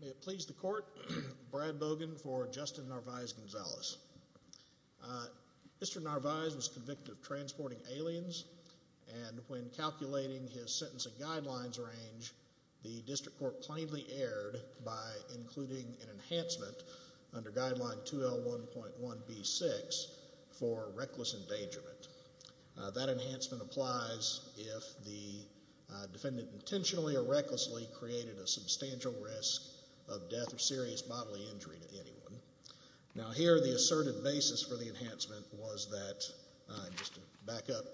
May it please the court, Brad Bogan for Justin Narvaiz-Gonzalez. Mr. Narvaiz was convicted of transporting aliens and when calculating his sentencing guidelines range, the district court plainly erred by including an enhancement under guideline 2L1.1B6 for reckless endangerment. That enhancement applies if the defendant intentionally or recklessly created a substantial risk of death or serious bodily injury to anyone. Now here the assertive basis for the enhancement was that, just to back up,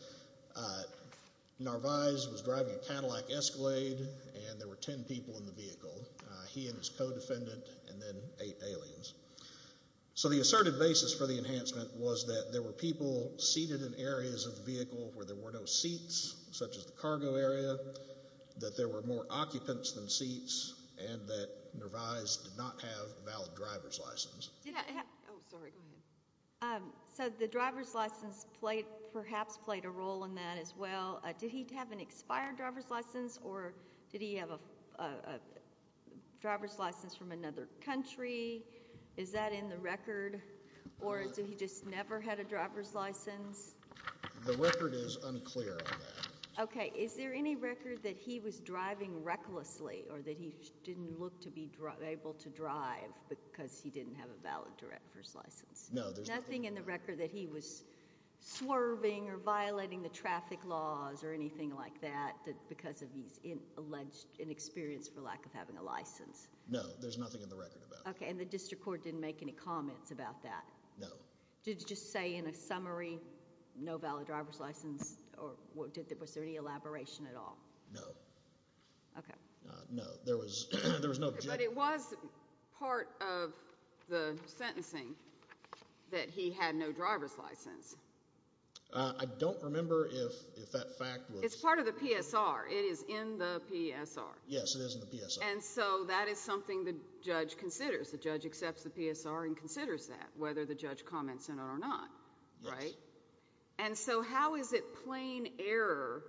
Narvaiz was driving a Cadillac Escalade and there were ten people in the vehicle, he and his co-defendant and then eight aliens. So the assertive basis for the enhancement was that there were people seated in areas of the vehicle where there were no seats, such as the cargo area, that there were more occupants than seats, and that Narvaiz did not have a valid driver's license. So the driver's license perhaps played a role in that as well, did he have an expired driver's license or did he have a driver's license from another country? Is that in the record or did he just never had a driver's license? The record is unclear on that. Okay. Is there any record that he was driving recklessly or that he didn't look to be able to drive because he didn't have a valid driver's license? No. Nothing in the record that he was swerving or violating the traffic laws or anything like that because of his alleged inexperience for lack of having a license? No, there's nothing in the record about that. Okay, and the district court didn't make any comments about that? No. Did it just say in a summary, no valid driver's license, or was there any elaboration at all? No. Okay. No, there was no objection. Okay, but it was part of the sentencing that he had no driver's license. I don't remember if that fact was... It's part of the PSR. It is in the PSR. Yes, it is in the PSR. And so that is something the judge considers. The judge accepts the PSR and considers that, whether the judge comments in it or not, right? And so how is it plain error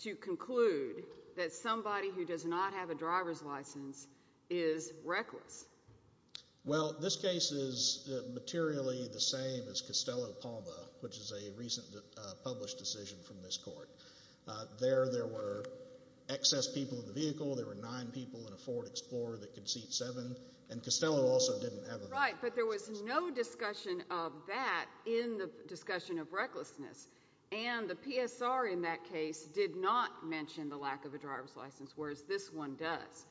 to conclude that somebody who does not have a driver's license is reckless? Well, this case is materially the same as Costello-Palma, which is a recent published decision from this court. There there were excess people in the vehicle. There were nine people in a Ford Explorer that could seat seven, and Costello also didn't have a driver's license. Right, but there was no discussion of that in the discussion of recklessness. And the PSR in that case did not mention the lack of a driver's license, whereas this one does.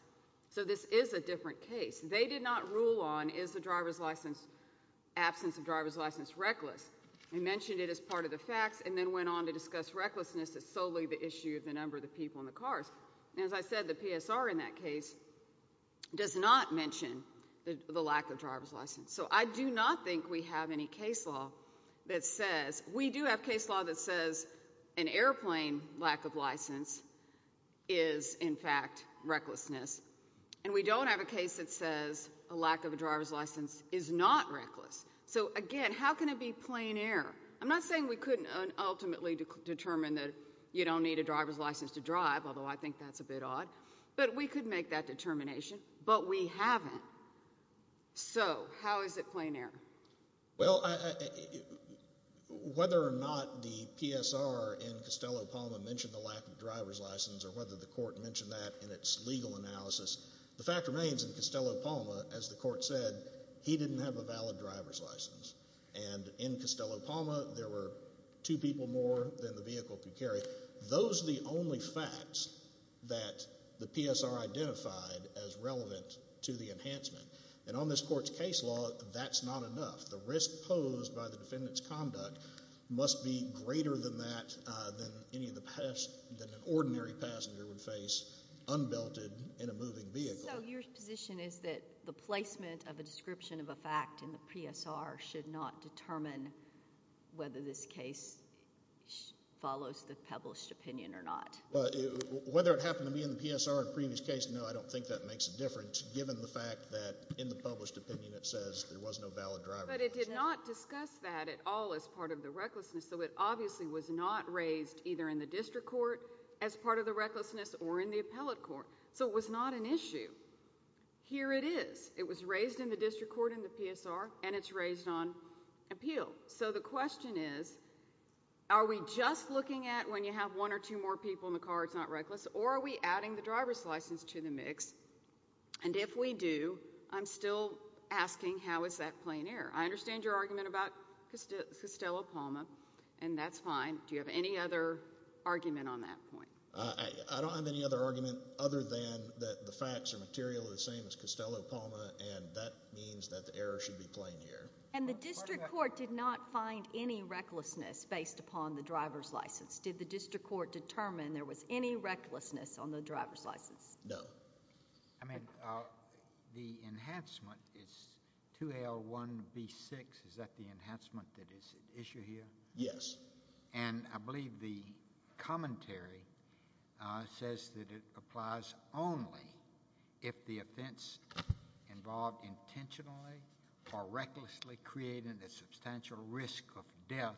So this is a different case. They did not rule on, is the driver's license, absence of driver's license reckless? They mentioned it as part of the facts and then went on to discuss recklessness as solely the issue of the number of the people in the cars. And as I said, the PSR in that case does not mention the lack of driver's license. So I do not think we have any case law that says... We do have case law that says an airplane lack of license is, in fact, recklessness. And we don't have a case that says a lack of a driver's license is not reckless. So again, how can it be plain error? I'm not saying we couldn't ultimately determine that you don't need a driver's license to drive, although I think that's a bit odd. But we could make that determination. But we haven't. So how is it plain error? Well, whether or not the PSR in Costello-Palma mentioned the lack of driver's license or whether the court mentioned that in its legal analysis, the fact remains in Costello-Palma, as the court said, he didn't have a valid driver's license. And in Costello-Palma, there were two people more than the vehicle could carry. Those are the only facts that the PSR identified as relevant to the enhancement. And on this court's case law, that's not enough. The risk posed by the defendant's conduct must be greater than that than any of the risks that an ordinary passenger would face unbelted in a moving vehicle. So your position is that the placement of a description of a fact in the PSR should not determine whether this case follows the published opinion or not? Whether it happened to be in the PSR in a previous case, no, I don't think that makes a difference, given the fact that in the published opinion it says there was no valid driver's license. But it did not discuss that at all as part of the recklessness, so it obviously was not raised either in the district court as part of the recklessness or in the appellate court. So it was not an issue. Here it is. It was raised in the district court in the PSR, and it's raised on appeal. So the question is, are we just looking at when you have one or two more people in the car, it's not reckless, or are we adding the driver's license to the mix? And if we do, I'm still asking, how is that plain error? I understand your argument about Costello-Palma, and that's fine. Do you have any other argument on that point? I don't have any other argument other than that the facts are materially the same as Costello-Palma, and that means that the error should be plain here. And the district court did not find any recklessness based upon the driver's license. Did the district court determine there was any recklessness on the driver's license? No. I mean, the enhancement is 2L1B6. Is that the enhancement that is at issue here? Yes. And I believe the commentary says that it applies only if the offense involved intentionally or recklessly created a substantial risk of death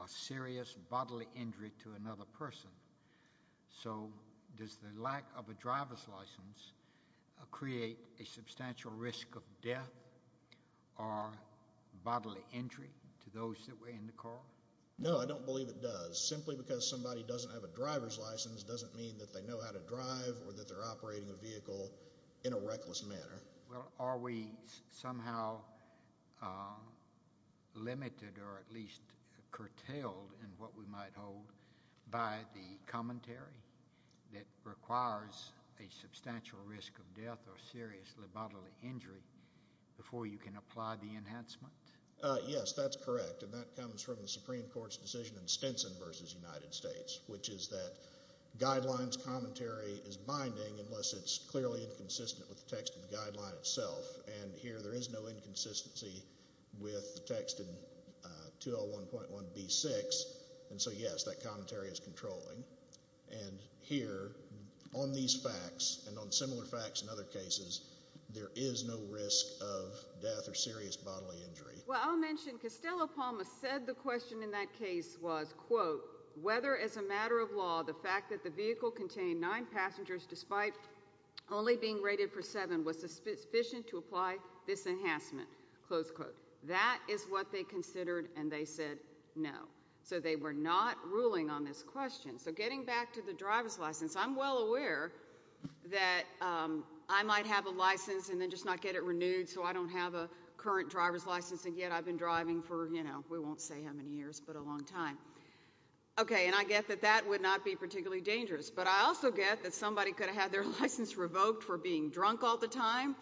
or serious bodily injury to another person. So does the lack of a driver's license create a substantial risk of death or bodily injury to those that were in the car? No, I don't believe it does. Simply because somebody doesn't have a driver's license doesn't mean that they know how to drive or that they're operating a vehicle in a reckless manner. Well, are we somehow limited or at least curtailed in what we might hold by the commentary that requires a substantial risk of death or serious bodily injury before you can apply the enhancement? Yes, that's correct. And that comes from the Supreme Court's decision in Stinson v. United States, which is that guidelines commentary is binding unless it's clearly inconsistent with the text of the guideline itself. And here there is no inconsistency with the text in 2L1.1B6. And so, yes, that commentary is controlling. And here on these facts and on similar facts in other cases, there is no risk of death or serious bodily injury. Well, I'll mention Costello-Palma said the question in that case was, quote, whether as a matter of law the fact that the vehicle contained nine passengers despite only being rated for seven was sufficient to apply this enhancement, close quote. That is what they considered and they said no. So they were not ruling on this question. So getting back to the driver's license, I'm well aware that I might have a license and then just not get it renewed so I don't have a current driver's license and yet I've been driving for, you know, we won't say how many years, but a long time. Okay. And I get that that would not be particularly dangerous, but I also get that somebody could have had their license revoked for being drunk all the time.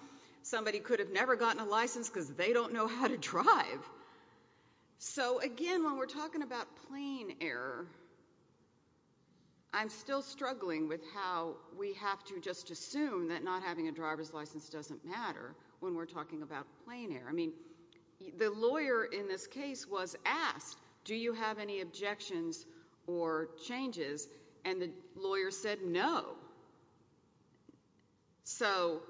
Somebody could have never gotten a license because they don't know how to drive. So again, when we're talking about plane error, I'm still struggling with how we have to just say the license doesn't matter when we're talking about plane error. I mean, the lawyer in this case was asked, do you have any objections or changes? And the lawyer said no. So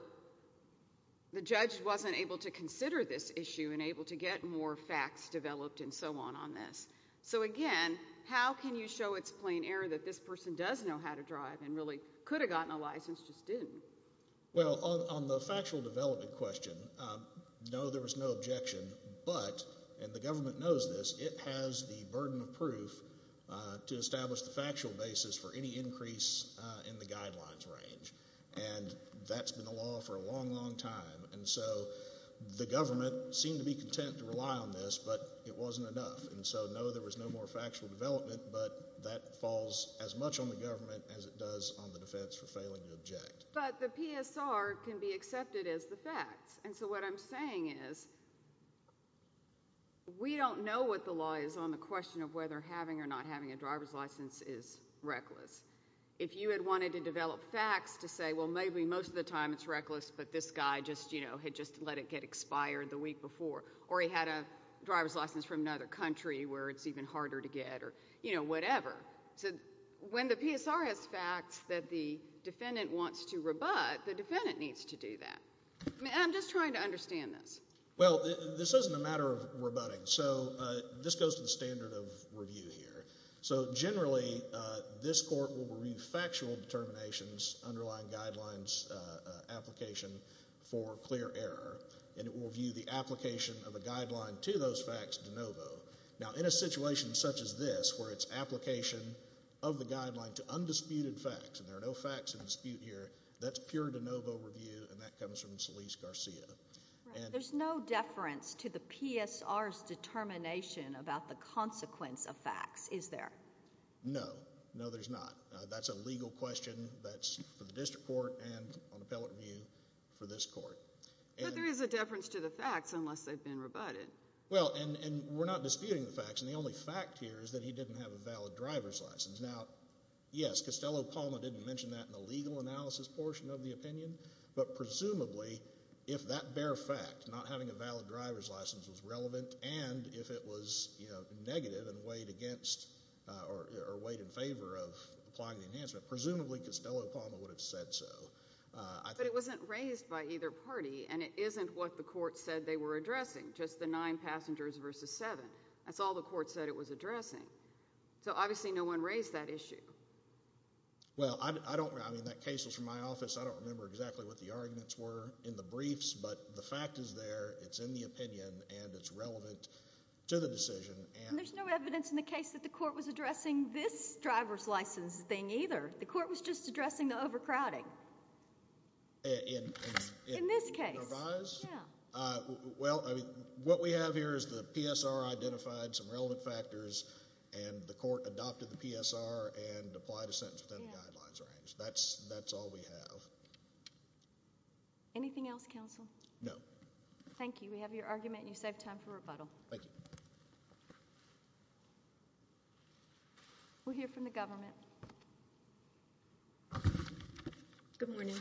the judge wasn't able to consider this issue and able to get more facts developed and so on on this. So again, how can you show it's plane error that this person does know how to drive and really could have gotten a license, just didn't? Well, on the factual development question, no, there was no objection, but, and the government knows this, it has the burden of proof to establish the factual basis for any increase in the guidelines range. And that's been the law for a long, long time. And so the government seemed to be content to rely on this, but it wasn't enough. And so no, there was no more factual development, but that falls as much on the government as it does on the defense for failing to object. But the PSR can be accepted as the facts. And so what I'm saying is, we don't know what the law is on the question of whether having or not having a driver's license is reckless. If you had wanted to develop facts to say, well, maybe most of the time it's reckless, but this guy just, you know, had just let it get expired the week before, or he had a driver's license from another country where it's even harder to get or, you know, whatever. So when the PSR has facts that the defendant wants to rebut, the defendant needs to do that. And I'm just trying to understand this. Well, this isn't a matter of rebutting. So this goes to the standard of review here. So generally, this court will review factual determinations, underlying guidelines, application for clear error, and it will review the application of a guideline to those facts de novo. Now, in a situation such as this, where it's application of the guideline to undisputed facts, and there are no facts in dispute here, that's pure de novo review, and that comes from Solis-Garcia. Right. There's no deference to the PSR's determination about the consequence of facts, is there? No. No, there's not. That's a legal question that's for the district court and on appellate review for this court. But there is a deference to the facts, unless they've been rebutted. Well, and we're not disputing the facts, and the only fact here is that he didn't have a valid driver's license. Now, yes, Costello-Palma didn't mention that in the legal analysis portion of the opinion, but presumably, if that bare fact, not having a valid driver's license, was relevant, and if it was negative and weighed against or weighed in favor of applying the enhancement, presumably, Costello-Palma would have said so. But it wasn't raised by either party, and it isn't what the court said they were addressing. Just the nine passengers versus seven. That's all the court said it was addressing. So obviously, no one raised that issue. Well, I don't, I mean, that case was from my office. I don't remember exactly what the arguments were in the briefs, but the fact is there. It's in the opinion, and it's relevant to the decision. And there's no evidence in the case that the court was addressing this driver's license thing, either. The court was just addressing the overcrowding. In this case. In this case. Yeah. Well, I mean, what we have here is the PSR identified some relevant factors, and the court adopted the PSR and applied a sentence within the guidelines range. That's all we have. Anything else, counsel? No. Thank you. We have your argument, and you saved time for rebuttal. Thank you. We'll hear from the government. Good morning. Good morning.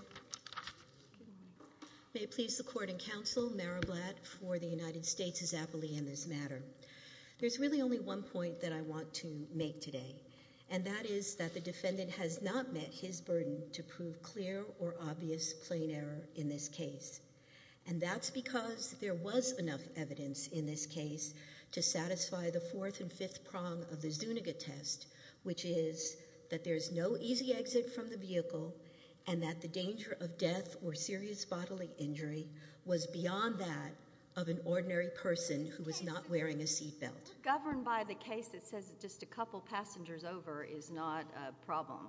May it please the court and counsel, Mara Blatt, for the United States' appellee in this matter. There's really only one point that I want to make today, and that is that the defendant has not met his burden to prove clear or obvious plain error in this case. And that's because there was enough evidence in this case to satisfy the fourth and fifth prong of the Zuniga test, which is that there's no easy exit from the vehicle, and that the bodily injury was beyond that of an ordinary person who was not wearing a seat belt. We're governed by the case that says that just a couple passengers over is not a problem.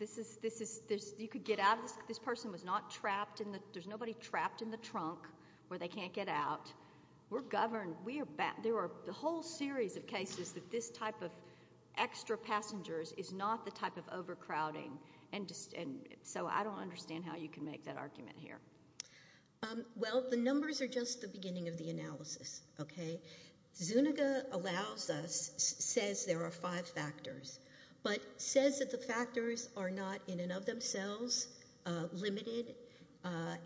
This is, you could get out of this. This person was not trapped in the, there's nobody trapped in the trunk where they can't get out. We're governed, we are, there are a whole series of cases that this type of extra passengers is not the type of overcrowding, and so I don't understand how you can make that argument here. Well, the numbers are just the beginning of the analysis, okay? Zuniga allows us, says there are five factors, but says that the factors are not in and of themselves limited,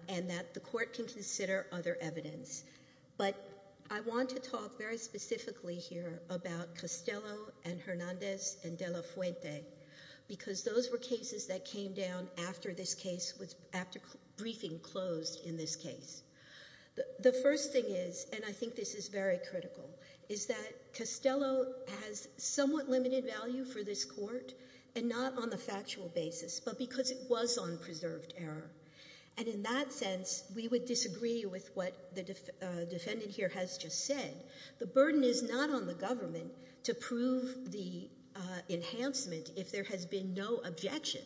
and that the court can consider other evidence. But I want to talk very specifically here about Castello and Hernandez and De La Fuente, because those were cases that came down after this case, after briefing closed in this case. The first thing is, and I think this is very critical, is that Castello has somewhat limited value for this court, and not on the factual basis, but because it was on preserved error. And in that sense, we would disagree with what the defendant here has just said. The burden is not on the government to prove the enhancement if there has been no objection.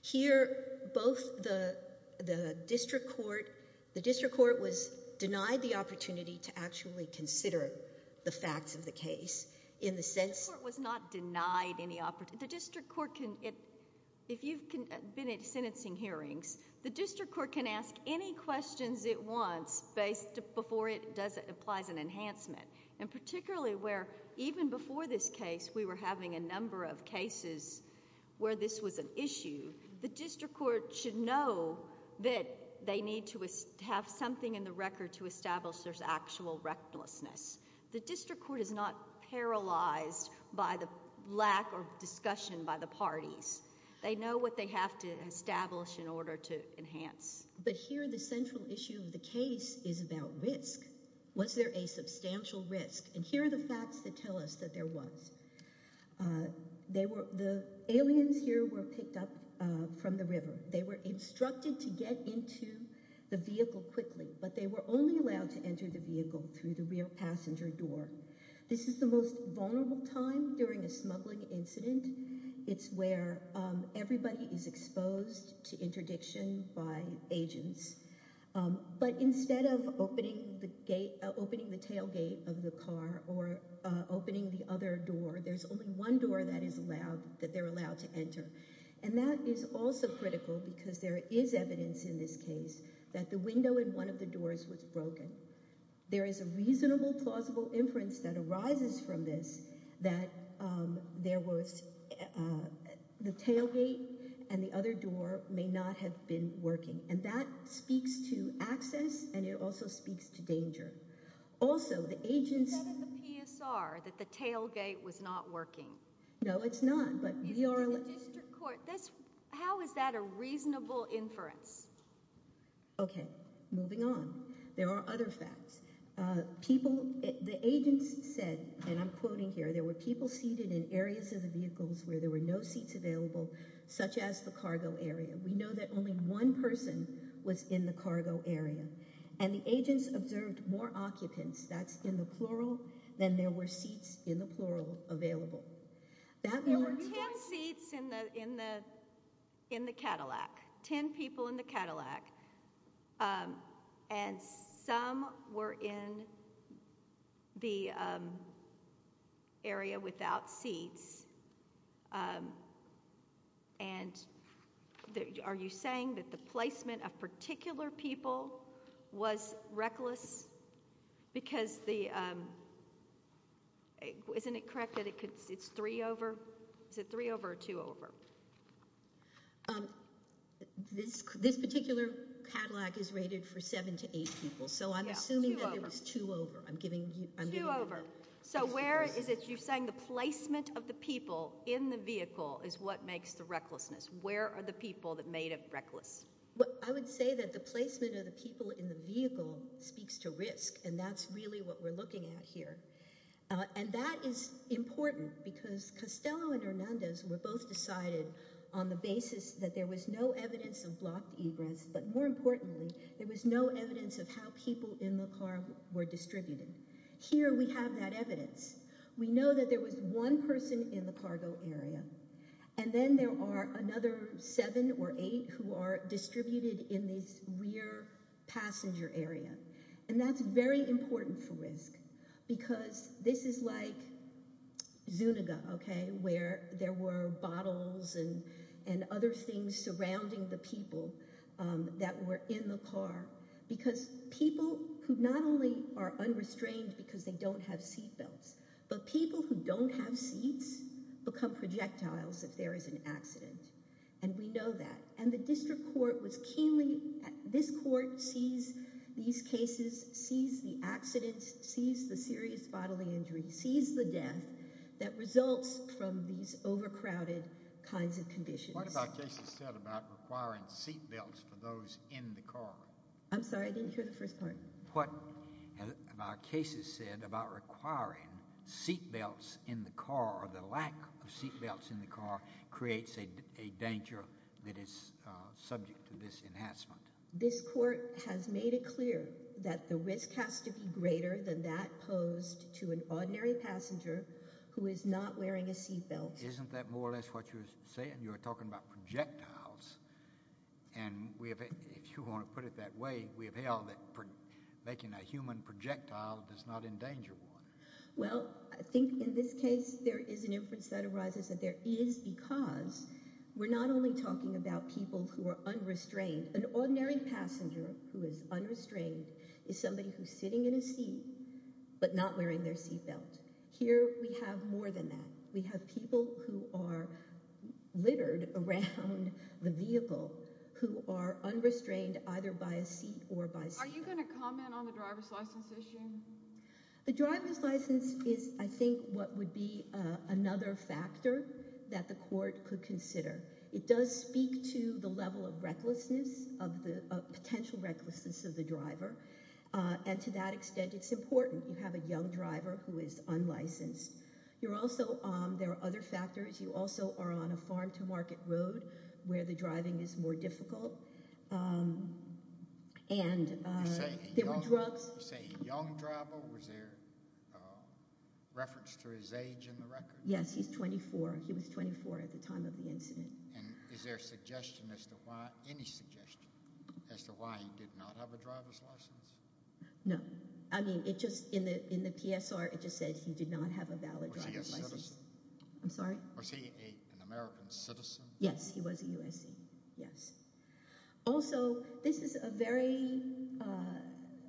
Here both the, the district court, the district court was denied the opportunity to actually consider the facts of the case, in the sense... The court was not denied any opportunity, the district court can, if you've been at The district court can ask any questions it wants, based, before it does, applies an enhancement. And particularly where, even before this case, we were having a number of cases where this was an issue. The district court should know that they need to have something in the record to establish there's actual recklessness. The district court is not paralyzed by the lack of discussion by the parties. They know what they have to establish in order to enhance. But here the central issue of the case is about risk. Was there a substantial risk? And here are the facts that tell us that there was. They were, the aliens here were picked up from the river. They were instructed to get into the vehicle quickly, but they were only allowed to enter the vehicle through the rear passenger door. This is the most vulnerable time during a smuggling incident. It's where everybody is exposed to interdiction by agents. But instead of opening the tailgate of the car or opening the other door, there's only one door that is allowed, that they're allowed to enter. And that is also critical because there is evidence in this case that the window in one of the doors was broken. There is a reasonable, plausible inference that arises from this that there was, the tailgate and the other door may not have been working. And that speaks to access and it also speaks to danger. Also the agents- You said at the PSR that the tailgate was not working. No, it's not. But we are- In the district court, how is that a reasonable inference? Okay, moving on. There are other facts. People, the agents said, and I'm quoting here, there were people seated in areas of the vehicles where there were no seats available, such as the cargo area. We know that only one person was in the cargo area. And the agents observed more occupants, that's in the plural, than there were seats in the plural available. That more people- There were 10 seats in the Cadillac, 10 people in the Cadillac. And some were in the area without seats. And are you saying that the placement of particular people was reckless? Because the, isn't it correct that it's three over? Is it three over or two over? This particular Cadillac is rated for seven to eight people, so I'm assuming that it was two over. I'm giving you- Two over. So where is it you're saying the placement of the people in the vehicle is what makes the recklessness? Where are the people that made it reckless? I would say that the placement of the people in the vehicle speaks to risk, and that's really what we're looking at here. And that is important because Costello and Hernandez were both decided on the basis that there was no evidence of blocked egress, but more importantly, there was no evidence of how people in the car were distributed. Here we have that evidence. We know that there was one person in the cargo area, and then there are another seven or eight who are distributed in this rear passenger area. And that's very important for risk because this is like Zuniga, okay, where there were bottles and other things surrounding the people that were in the car. Because people who not only are unrestrained because they don't have seat belts, but people who don't have seats become projectiles if there is an accident, and we know that. And the district court was keenly, this court sees these cases, sees the accidents, sees the serious bodily injuries, sees the death that results from these overcrowded kinds of conditions. What have our cases said about requiring seat belts for those in the car? I'm sorry, I didn't hear the first part. What have our cases said about requiring seat belts in the car, or the lack of seat belts in the car creates a danger that is subject to this enhancement? This court has made it clear that the risk has to be greater than that posed to an ordinary passenger who is not wearing a seat belt. Isn't that more or less what you're saying? You're talking about projectiles. And if you want to put it that way, we have held that making a human projectile does not endanger one. Well, I think in this case there is an inference that arises that there is because we're not only talking about people who are unrestrained. An ordinary passenger who is unrestrained is somebody who's sitting in a seat but not wearing their seat belt. Here we have more than that. We have people who are littered around the vehicle who are unrestrained either by a seat or by seat belt. Are you going to comment on the driver's license issue? The driver's license is, I think, what would be another factor that the court could consider. It does speak to the level of recklessness, of the potential recklessness of the driver. And to that extent, it's important you have a young driver who is unlicensed. There are other factors. You also are on a farm-to-market road where the driving is more difficult. You say a young driver. Was there reference to his age in the record? Yes, he's 24. He was 24 at the time of the incident. And is there any suggestion as to why he did not have a driver's license? No. I mean, in the PSR, it just said he did not have a valid driver's license. Was he a citizen? I'm sorry? Was he an American citizen? Yes, he was a USC. Yes. Also, this is a very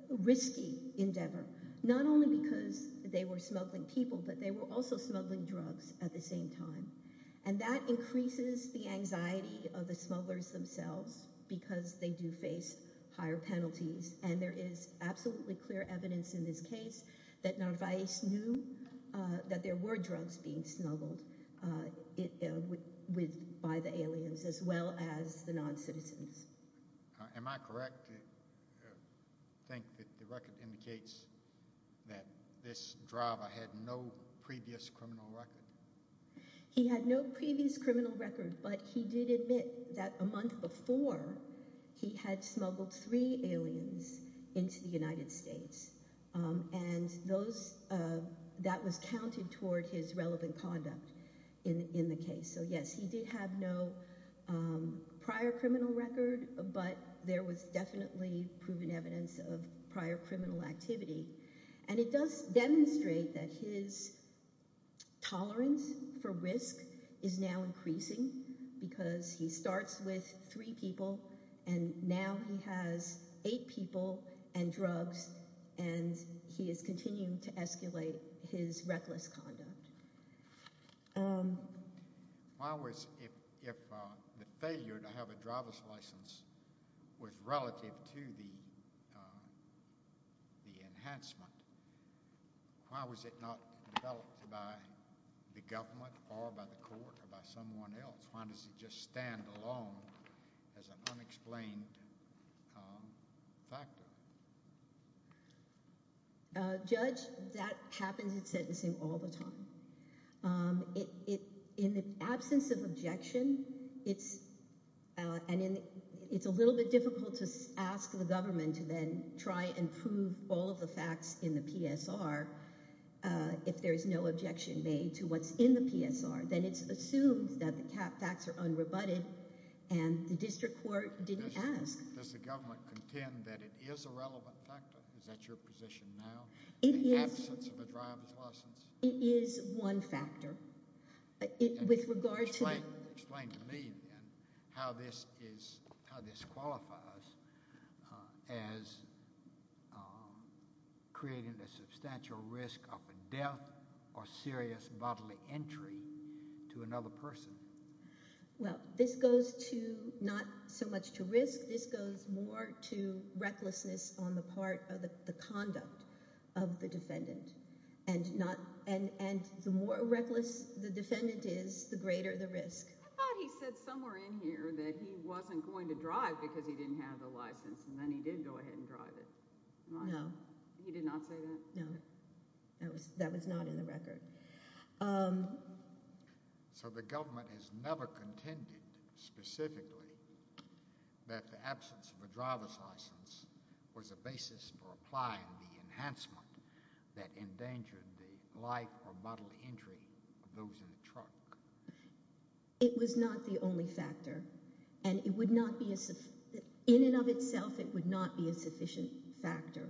risky endeavor, not only because they were smuggling people, but they were also smuggling drugs at the same time. And that increases the anxiety of the smugglers themselves because they do face higher penalties. And there is absolutely clear evidence in this case that Narvaez knew that there were aliens as well as the non-citizens. Am I correct to think that the record indicates that this driver had no previous criminal record? He had no previous criminal record, but he did admit that a month before, he had smuggled three aliens into the United States. And that was counted toward his relevant conduct in the case. So, yes, he did have no prior criminal record, but there was definitely proven evidence of prior criminal activity. And it does demonstrate that his tolerance for risk is now increasing because he starts with three people, and now he has eight people and drugs, and he is continuing to escalate his reckless conduct. Why was—if the failure to have a driver's license was relative to the enhancement, why was it not developed by the government or by the court or by someone else? Why does it just stand alone as an unexplained factor? Judge, that happens in sentencing all the time. In the absence of objection, it's—and it's a little bit difficult to ask the government to then try and prove all of the facts in the PSR if there is no objection made to what's in the PSR. Then it's assumed that the facts are unrebutted, and the district court didn't ask. Does the government contend that it is a relevant factor? Is that your position now? In the absence of a driver's license? It is one factor. With regard to— Explain to me how this is—how this qualifies as creating a substantial risk of a death or serious bodily entry to another person. Well, this goes to not so much to risk. This goes more to recklessness on the part of the conduct of the defendant, and not—and the more reckless the defendant is, the greater the risk. I thought he said somewhere in here that he wasn't going to drive because he didn't have the license, and then he did go ahead and drive it. No. He did not say that? No. That was not in the record. So the government has never contended specifically that the absence of a driver's license was a basis for applying the enhancement that endangered the life or bodily entry of those in a truck? It was not the only factor, and it would not be a—in and of itself, it would not be a sufficient factor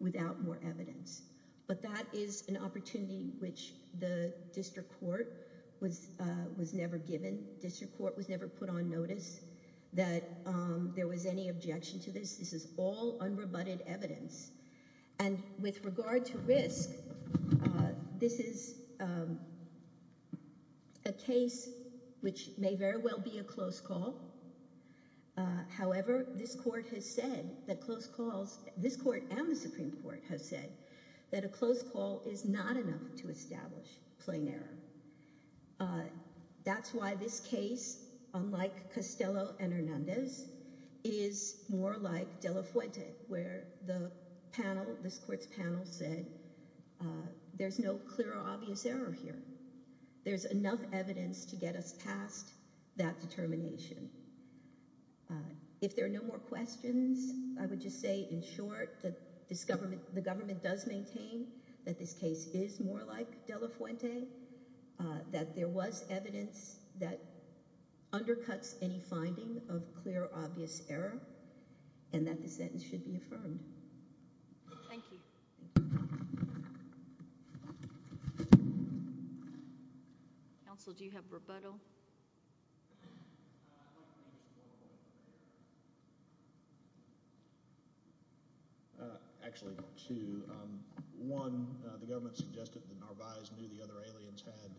without more evidence. But that is an opportunity which the district court was never given. District court was never put on notice that there was any objection to this. This is all unrebutted evidence. And with regard to risk, this is a case which may very well be a close call. However, this court has said that close calls—this court and the Supreme Court has said that a close call is not enough to establish plain error. That's why this case, unlike Castello and Hernandez, is more like De La Fuente, where the panel, this court's panel, said there's no clear or obvious error here. There's enough evidence to get us past that determination. If there are no more questions, I would just say in short that this government—the government does maintain that this case is more like De La Fuente, that there was evidence that undercuts any finding of clear or obvious error, and that the sentence should be affirmed. Thank you. Counsel, do you have rebuttal? Actually, two. One, the government suggested that Narvaez knew the other aliens had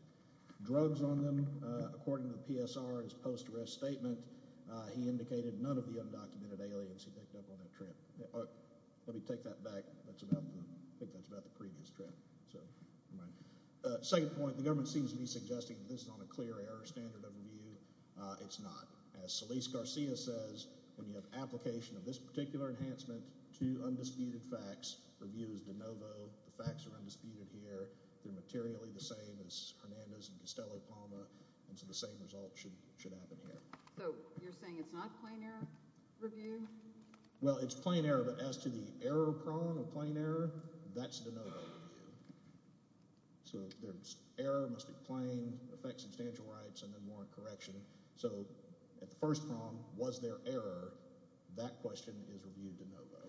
drugs on them. According to the PSR, his post-arrest statement, he indicated none of the undocumented aliens he picked up on that trip. Let me take that back. That's about—I think that's about the previous trip, so never mind. Second point, the government seems to be suggesting that this is on a clear error standard of review. It's not. As Solis-Garcia says, when you have application of this particular enhancement to undisputed facts, review is de novo. The facts are undisputed here. They're materially the same as Hernandez and Costello-Palma, and so the same result should happen here. So you're saying it's not plain error review? Well, it's plain error, but as to the error prong of plain error, that's de novo review. So there's error, must be plain, affect substantial rights, and then warrant correction. So at the first prong, was there error, that question is reviewed de novo.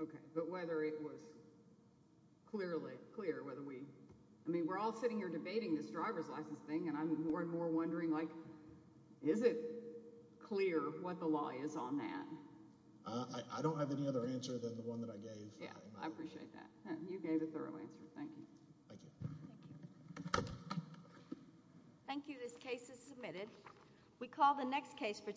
Okay, but whether it was clearly clear, whether we—I mean, we're all sitting here debating this driver's license thing, and I'm more and more wondering, like, is it clear what the law is on that? I don't have any other answer than the one that I gave. Yeah, I appreciate that. You gave a thorough answer. Thank you. Thank you. Thank you. This case is submitted. We call the next case for—